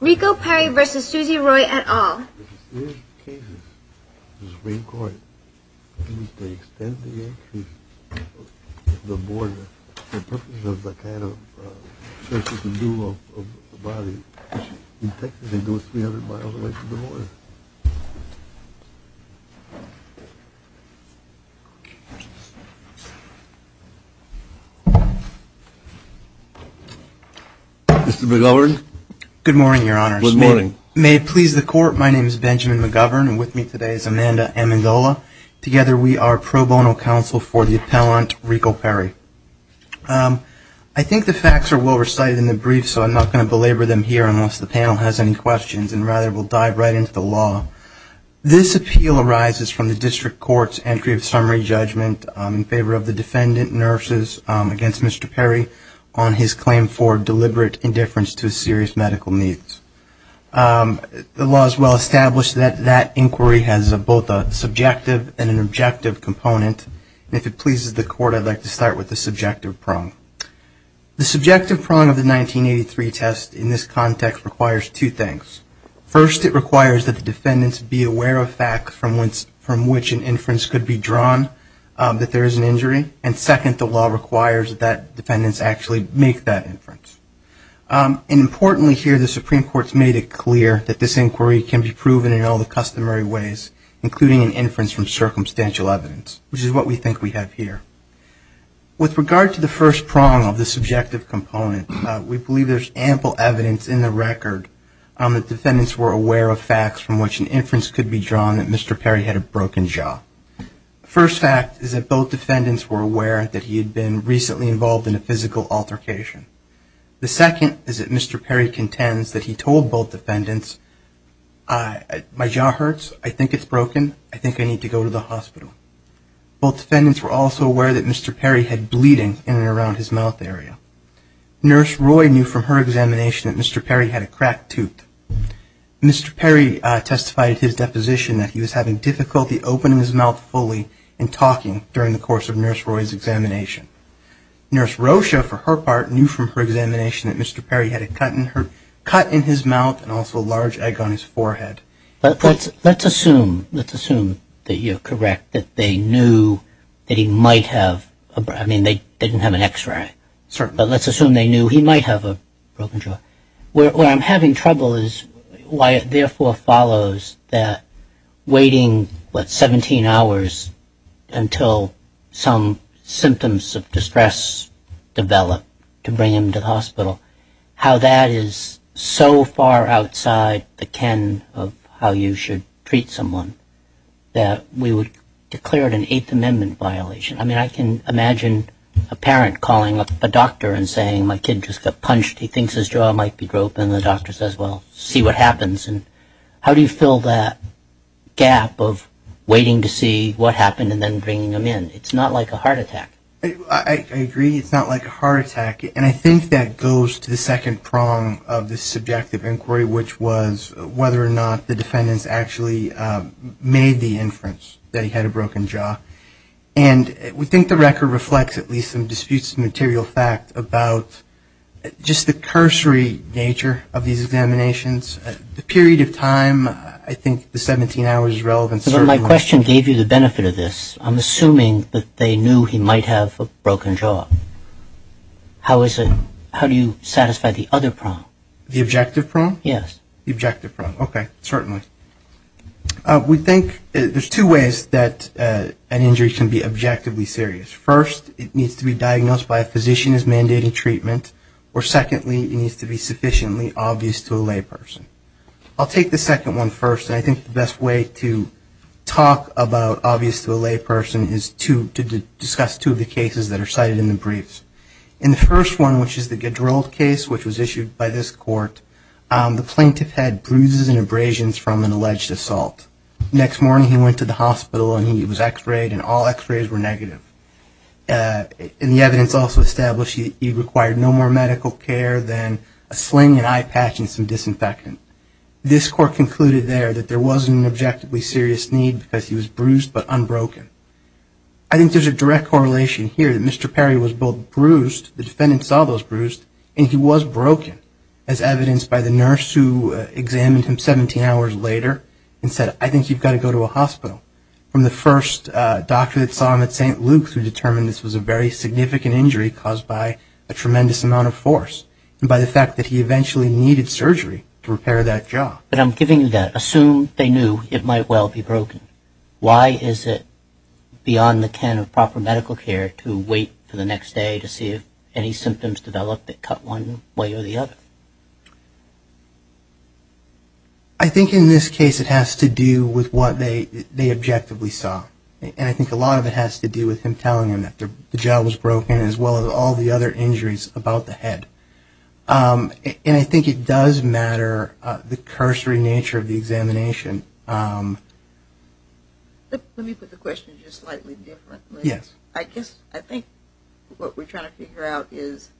Rico Perry v. Suzy Roy et al. Mr. McGovern? Good morning, Your Honor. Good morning. May it please the Court, my name is Benjamin McGovern and with me today is Amanda Amendola. Together we are pro bono counsel for the appellant, Rico Perry. I think the facts are well recited in the brief, so I'm not going to belabor them here unless the panel has any questions, and rather we'll dive right into the law. This appeal arises from the district court's entry of summary judgment in favor of the defendant, nurses, against Mr. Perry on his claim for deliberate indifference to serious medical needs. The law is well established that that inquiry has both a subjective and an objective component, and if it pleases the Court, I'd like to start with the subjective prong. The subjective prong of the 1983 test in this context requires two things. First, it requires that the defendants be aware of facts from which an inference could be drawn that there is an injury, and second, the law requires that defendants actually make that inference. Importantly here, the Supreme Court's made it clear that this inquiry can be proven in all the customary ways, including an inference from circumstantial evidence, which is what we think we have here. With regard to the first prong of the subjective component, we believe there's ample evidence in the record that defendants were aware of facts from which an inference could be drawn that Mr. Perry had a broken jaw. The first fact is that both defendants were aware that he had been recently involved in a physical altercation. The second is that Mr. Perry contends that he told both defendants, my jaw hurts, I think it's broken, I think I need to go to the hospital. Both defendants were also aware that Mr. Perry had bleeding in and around his mouth area. Nurse Roy knew from her examination that Mr. Perry had a cracked tooth. Mr. Perry testified at his deposition that he was having difficulty opening his mouth fully Nurse Rocha, for her part, knew from her examination that Mr. Perry had a cut in his mouth and also a large egg on his forehead. Let's assume, let's assume that you're correct, that they knew that he might have, I mean they didn't have an x-ray. Certainly. But let's assume they knew he might have a broken jaw. Where I'm having trouble is why it therefore follows that waiting, what, 17 hours until some symptoms of distress develop to bring him to the hospital, how that is so far outside the ken of how you should treat someone, that we would declare it an Eighth Amendment violation. I mean, I can imagine a parent calling up a doctor and saying my kid just got punched, he thinks his jaw might be broken and the doctor says, well, see what happens. And how do you fill that gap of waiting to see what happened and then bringing him in? It's not like a heart attack. I agree, it's not like a heart attack. And I think that goes to the second prong of the subjective inquiry, which was whether or not the defendants actually made the inference that he had a broken jaw. And we think the record reflects at least some disputes of material fact about just the cursory nature of these examinations. The period of time, I think the 17 hours is relevant. But my question gave you the benefit of this. I'm assuming that they knew he might have a broken jaw. How do you satisfy the other prong? The objective prong? Yes. The objective prong. Okay, certainly. We think there's two ways that an injury can be objectively serious. First, it needs to be diagnosed by a physician as mandating treatment, or secondly, it needs to be sufficiently obvious to a layperson. I'll take the second one first, and I think the best way to talk about obvious to a layperson is to discuss two of the cases that are cited in the briefs. In the first one, which is the Gedrold case, which was issued by this court, the plaintiff had bruises and abrasions from an alleged assault. Next morning, he went to the hospital and he was x-rayed, and all x-rays were negative. And the evidence also established he required no more medical care than a sling and eye patch and some disinfectant. This court concluded there that there wasn't an objectively serious need because he was bruised but unbroken. I think there's a direct correlation here that Mr. Perry was both bruised, the defendant saw those bruised, and he was broken as evidenced by the nurse who examined him 17 hours later and said, I think you've got to go to a hospital. From the first doctor that saw him at St. Luke's who determined this was a very significant injury caused by a tremendous amount of force, and by the fact that he eventually needed surgery to repair that jaw. But I'm giving you that. Assume they knew it might well be broken. Why is it beyond the can of proper medical care to wait for the next day to see if any symptoms develop that cut one way or the other? I think in this case it has to do with what they objectively saw. And I think a lot of it has to do with him telling them that the jaw was broken as well as all the other injuries about the head. And I think it does matter the cursory nature of the examination. Let me put the question just slightly differently. Yes. I guess I think what we're trying to figure out is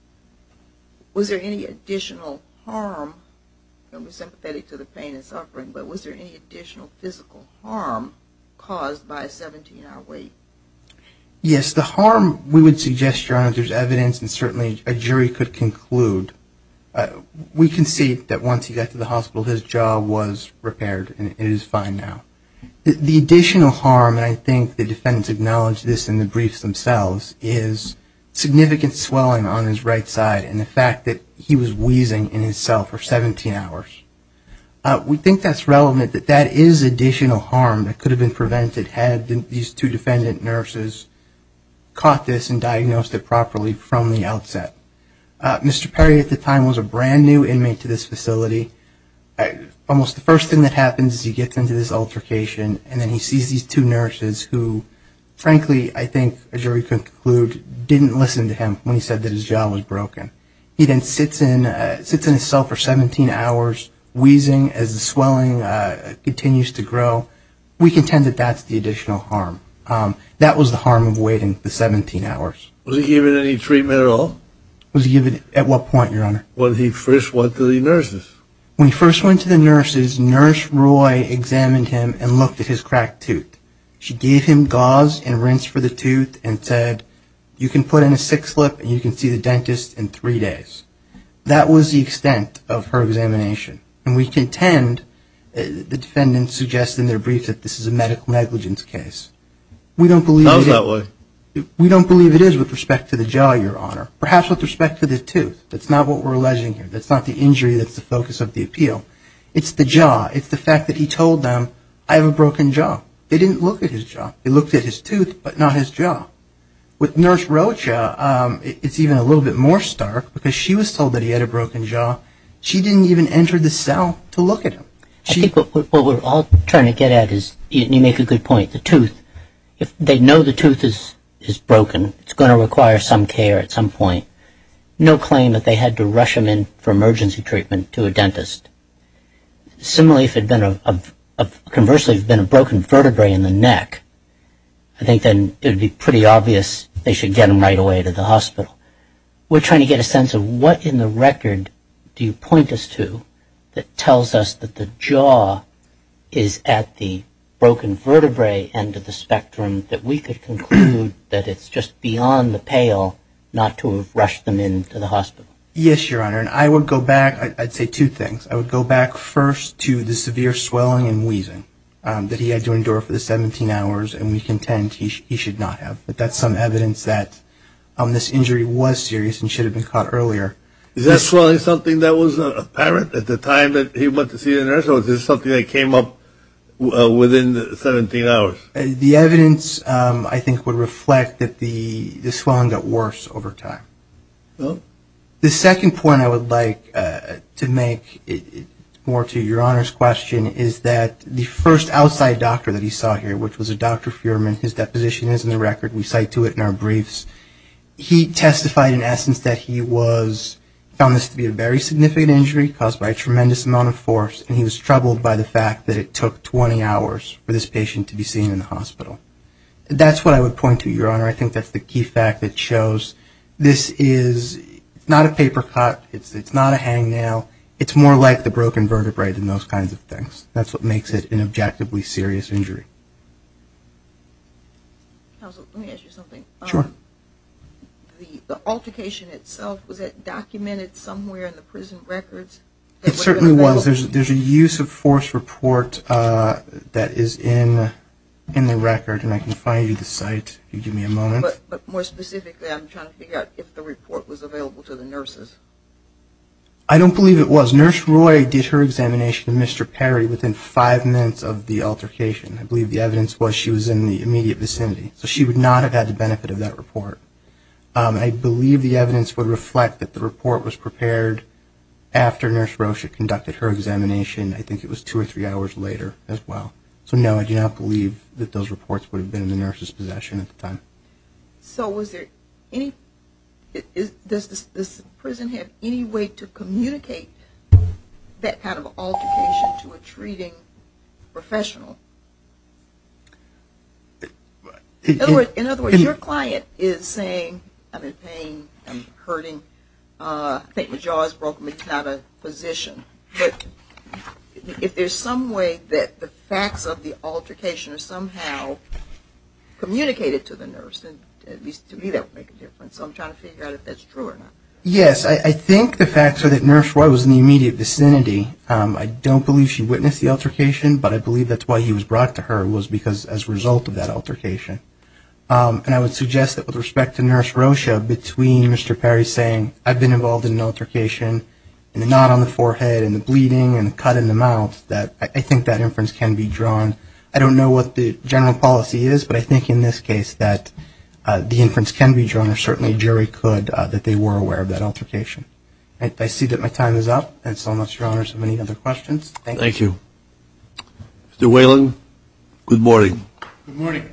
was there any additional harm, and we're sympathetic to the pain and suffering, but was there any additional physical harm caused by a 17-hour wait? Yes. The harm, we would suggest, Your Honor, there's evidence and certainly a jury could conclude. We can see that once he got to the hospital his jaw was repaired and it is fine now. The additional harm, and I think the defendants acknowledged this in the briefs themselves, is significant swelling on his right side and the fact that he was wheezing in his cell for 17 hours. We think that's relevant, that that is additional harm that could have been prevented had these two defendant nurses caught this and diagnosed it properly from the outset. Mr. Perry at the time was a brand new inmate to this facility. Almost the first thing that happens is he gets into this altercation and then he sees these two nurses who, frankly, I think a jury could conclude didn't listen to him when he said that his jaw was broken. He then sits in his cell for 17 hours wheezing as the swelling continues to grow. We contend that that's the additional harm. That was the harm of waiting the 17 hours. Was he given any treatment at all? Was he given at what point, Your Honor? When he first went to the nurses. When he first went to the nurses, Nurse Roy examined him and looked at his cracked tooth. She gave him gauze and rinsed for the tooth and said, you can put in a six-lip and you can see the dentist in three days. That was the extent of her examination. And we contend, the defendants suggest in their briefs that this is a medical negligence case. We don't believe it is with respect to the jaw, Your Honor. Perhaps with respect to the tooth. That's not what we're alleging here. That's not the injury that's the focus of the appeal. It's the jaw. It's the fact that he told them, I have a broken jaw. They didn't look at his jaw. They looked at his tooth, but not his jaw. With Nurse Rocha, it's even a little bit more stark because she was told that he had a broken jaw. She didn't even enter the cell to look at him. I think what we're all trying to get at is, you make a good point, the tooth. If they know the tooth is broken, it's going to require some care at some point. No claim that they had to rush him in for emergency treatment to a dentist. Similarly, if it had been a, conversely, if it had been a broken vertebrae in the neck, I think then it would be pretty obvious they should get him right away to the hospital. We're trying to get a sense of what in the record do you point us to that tells us that the jaw is at the broken vertebrae end of the spectrum that we could conclude that it's just beyond the pale not to have rushed them into the hospital. Yes, Your Honor. I would go back. I'd say two things. I would go back first to the severe swelling and wheezing that he had to endure for the 17 hours, and we contend he should not have. But that's some evidence that this injury was serious and should have been caught earlier. Is that swelling something that was apparent at the time that he went to see a nurse, or is this something that came up within the 17 hours? The evidence, I think, would reflect that the swelling got worse over time. The second point I would like to make more to Your Honor's question is that the first outside doctor that he saw here, which was a Dr. Fuhrman, his deposition is in the record. We cite to it in our briefs. He testified in essence that he found this to be a very significant injury caused by a tremendous amount of force, and he was troubled by the fact that it took 20 hours for this patient to be seen in the hospital. That's what I would point to, Your Honor. I think that's the key fact that shows this is not a paper cut. It's not a hangnail. It's more like the broken vertebrae than those kinds of things. That's what makes it an objectively serious injury. Counsel, let me ask you something. Sure. The altercation itself, was it documented somewhere in the prison records? It certainly was. There's a use of force report that is in the record, and I can find you the site if you give me a moment. But more specifically, I'm trying to figure out if the report was available to the nurses. I don't believe it was. Nurse Roy did her examination of Mr. Perry within five minutes of the altercation. I believe the evidence was she was in the immediate vicinity. I believe the evidence would reflect that the report was prepared after Nurse Roy conducted her examination. I think it was two or three hours later as well. So, no, I do not believe that those reports would have been in the nurse's possession at the time. So does this prison have any way to communicate that kind of altercation to a treating professional? In other words, your client is saying, I'm in pain, I'm hurting, I think my jaw is broken, it's not a position. But if there's some way that the facts of the altercation are somehow communicated to the nurse, at least to me that would make a difference. So I'm trying to figure out if that's true or not. Yes, I think the facts are that Nurse Roy was in the immediate vicinity. I don't believe she witnessed the altercation, but I believe that's why he was brought to her, was because as a result of that altercation. And I would suggest that with respect to Nurse Rocha, between Mr. Perry saying, I've been involved in an altercation and the knot on the forehead and the bleeding and the cut in the mouth, that I think that inference can be drawn. I don't know what the general policy is, but I think in this case that the inference can be drawn, or certainly a jury could, that they were aware of that altercation. I see that my time is up. And so much, Your Honors, for many other questions. Thank you. Thank you. Mr. Whalen, good morning. Good morning.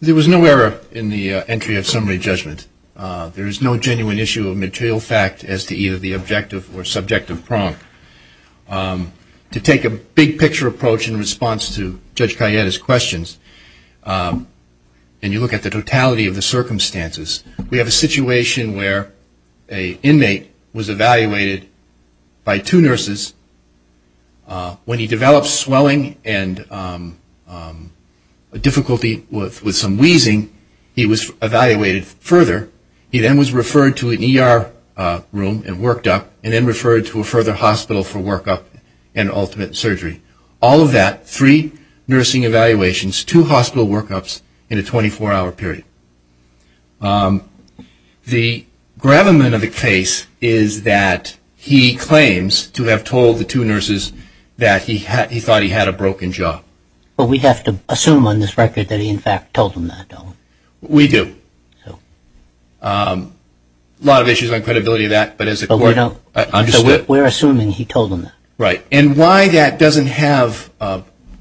There was no error in the entry of summary judgment. There is no genuine issue of material fact as to either the objective or subjective prong. To take a big picture approach in response to Judge Kayette's questions, and you look at the totality of the circumstances, we have a situation where an inmate was evaluated by two nurses. When he developed swelling and difficulty with some wheezing, he was evaluated further. He then was referred to an ER room and worked up, and then referred to a further hospital for workup and ultimate surgery. All of that, three nursing evaluations, two hospital workups in a 24-hour period. The gravamen of the case is that he claims to have told the two nurses that he thought he had a broken jaw. Well, we have to assume on this record that he, in fact, told them that, don't we? We do. A lot of issues on credibility of that, but as a court understood it. We're assuming he told them that. Right. And why that doesn't have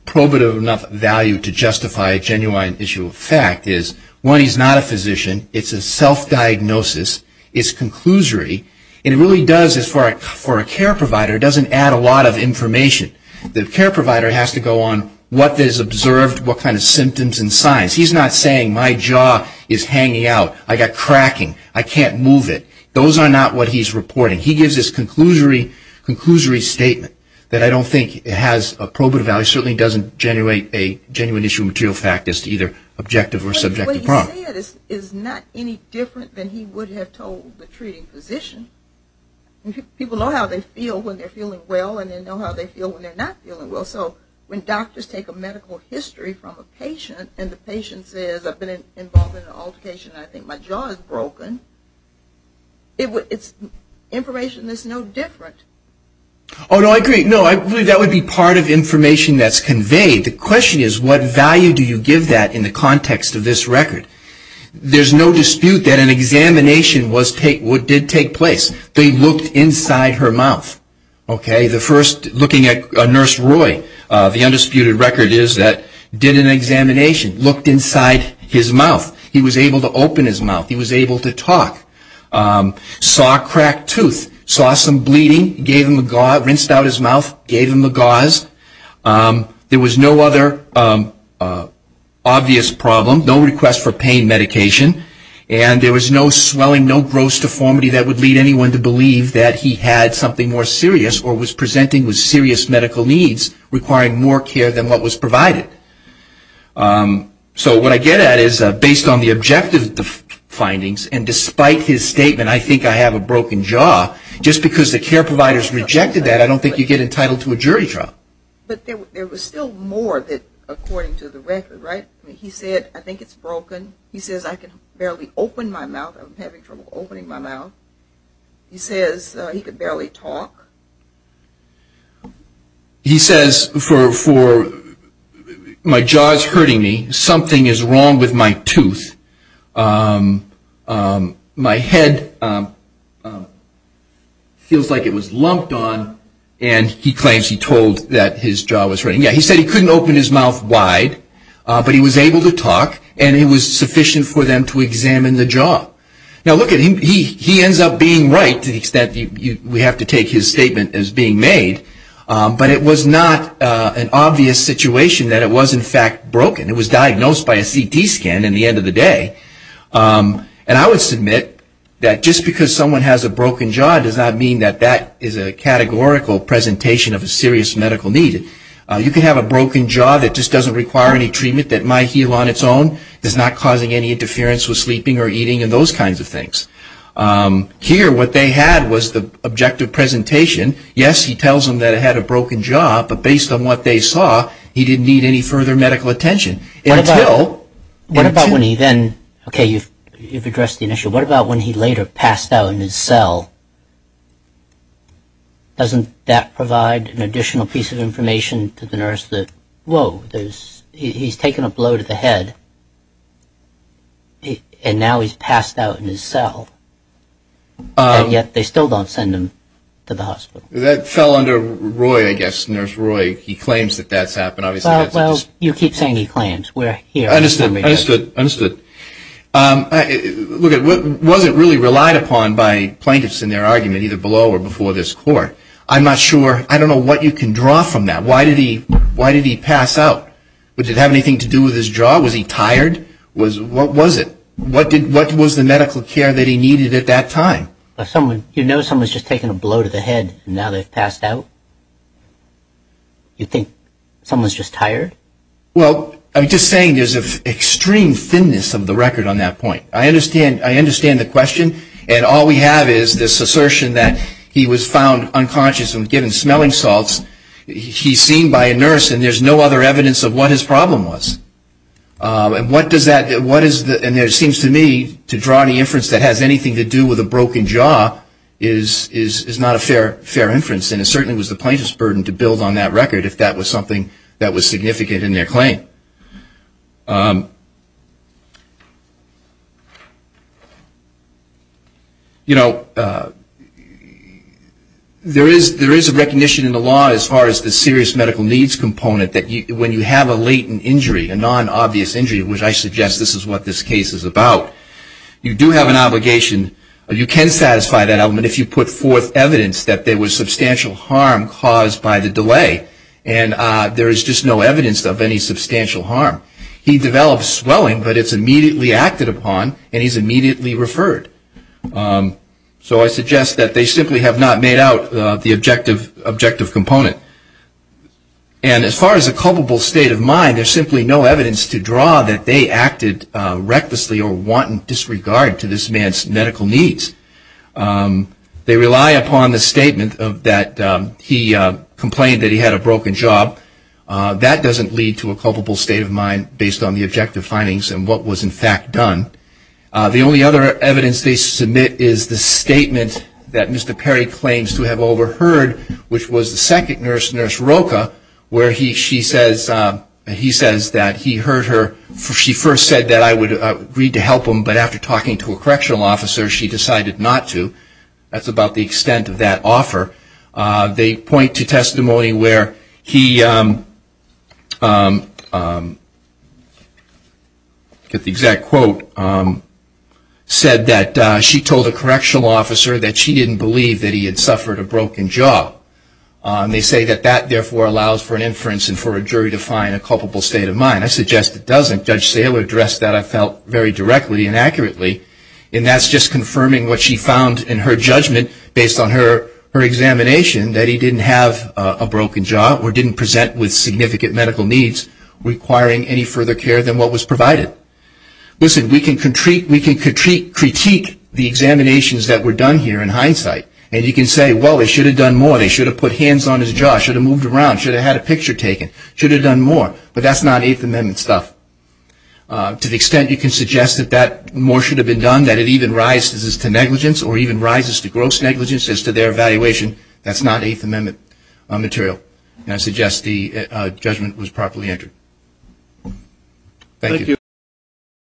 probative enough value to justify a genuine issue of fact is, one, he's not a physician. It's a self-diagnosis. It's conclusory. And it really does, as far as for a care provider, doesn't add a lot of information. The care provider has to go on what is observed, what kind of symptoms and signs. He's not saying, my jaw is hanging out. I got cracking. I can't move it. Those are not what he's reporting. He gives this conclusory statement that I don't think has a probative value. It certainly doesn't generate a genuine issue of material fact as to either objective or subjective property. What he said is not any different than he would have told the treating physician. People know how they feel when they're feeling well, and they know how they feel when they're not feeling well. So when doctors take a medical history from a patient and the patient says, I've been involved in an altercation and I think my jaw is broken, it's information that's no different. Oh, no, I agree. No, I believe that would be part of information that's conveyed. The question is, what value do you give that in the context of this record? There's no dispute that an examination did take place. They looked inside her mouth. Okay? The first, looking at Nurse Roy, the undisputed record is that did an examination, looked inside his mouth. He was able to open his mouth. He was able to talk. Saw a cracked tooth. Saw some bleeding. Gave him a gauze. Rinsed out his mouth. Gave him a gauze. There was no other obvious problem, no request for pain medication, and there was no swelling, no gross deformity that would lead anyone to believe that he had something more serious or was presenting with serious medical needs requiring more care than what was provided. So what I get at is, based on the objective findings, and despite his statement, I think I have a broken jaw, just because the care providers rejected that, I don't think you get entitled to a jury trial. But there was still more that, according to the record, right? He said, I think it's broken. He says, I can barely open my mouth. I'm having trouble opening my mouth. He says he could barely talk. He says, my jaw is hurting me. Something is wrong with my tooth. My head feels like it was lumped on, and he claims he told that his jaw was hurting. Yeah, he said he couldn't open his mouth wide, but he was able to talk, and it was sufficient for them to examine the jaw. Now, look at him. He ends up being right to the extent we have to take his statement as being made, but it was not an obvious situation that it was, in fact, broken. It was diagnosed by a CT scan in the end of the day, and I would submit that just because someone has a broken jaw does not mean that that is a categorical presentation of a serious medical need. I would submit that my heel on its own is not causing any interference with sleeping or eating and those kinds of things. Here, what they had was the objective presentation. Yes, he tells them that it had a broken jaw, but based on what they saw, he didn't need any further medical attention. What about when he then, okay, you've addressed the initial. What about when he later passed out in his cell? Doesn't that provide an additional piece of information to the nurse that, whoa, he's taken a blow to the head, and now he's passed out in his cell, and yet they still don't send him to the hospital? That fell under Roy, I guess, Nurse Roy. He claims that that's happened. Well, you keep saying he claims. I understood. I understood. Look, it wasn't really relied upon by plaintiffs in their argument, either below or before this court. I'm not sure. I don't know what you can draw from that. Why did he pass out? Did it have anything to do with his jaw? Was he tired? What was it? What was the medical care that he needed at that time? You know someone's just taken a blow to the head, and now they've passed out? You think someone's just tired? Well, I'm just saying there's an extreme thinness of the record on that point. I understand the question, and all we have is this assertion that he was found unconscious and given smelling salts. He's seen by a nurse, and there's no other evidence of what his problem was. And what does that do? And it seems to me to draw the inference that has anything to do with a broken jaw is not a fair inference, and it certainly was the plaintiff's burden to build on that record if that was something that was significant in their claim. You know, there is a recognition in the law as far as the serious medical needs component that when you have a latent injury, a non-obvious injury, which I suggest this is what this case is about, you do have an obligation. You can satisfy that element if you put forth evidence that there was substantial harm caused by the delay, and there is just no evidence of any substantial harm. He developed swelling, but it's immediately acted upon, and he's immediately referred. So I suggest that they simply have not made out the objective component. And as far as a culpable state of mind, there's simply no evidence to draw that they acted recklessly or wanton disregard to this man's medical needs. They rely upon the statement that he complained that he had a broken jaw. That doesn't lead to a culpable state of mind based on the objective findings and what was in fact done. The only other evidence they submit is the statement that Mr. Perry claims to have overheard, which was the second nurse, Nurse Rocha, where he says that he heard her. She first said that I would agree to help him, but after talking to a correctional officer, she decided not to. That's about the extent of that offer. They point to testimony where he, get the exact quote, said that she told a correctional officer that she didn't believe that he had suffered a broken jaw. They say that that, therefore, allows for an inference and for a jury to find a culpable state of mind. I suggest it doesn't. Judge Saylor addressed that, I felt, very directly and accurately, and that's just confirming what she found in her judgment, based on her examination, that he didn't have a broken jaw or didn't present with significant medical needs requiring any further care than what was provided. Listen, we can critique the examinations that were done here in hindsight, and you can say, well, they should have done more. They should have put hands on his jaw, should have moved around, should have had a picture taken, should have done more, but that's not Eighth Amendment stuff. To the extent you can suggest that more should have been done, that it even rises to negligence or even rises to gross negligence as to their evaluation, that's not Eighth Amendment material. And I suggest the judgment was properly entered. Thank you.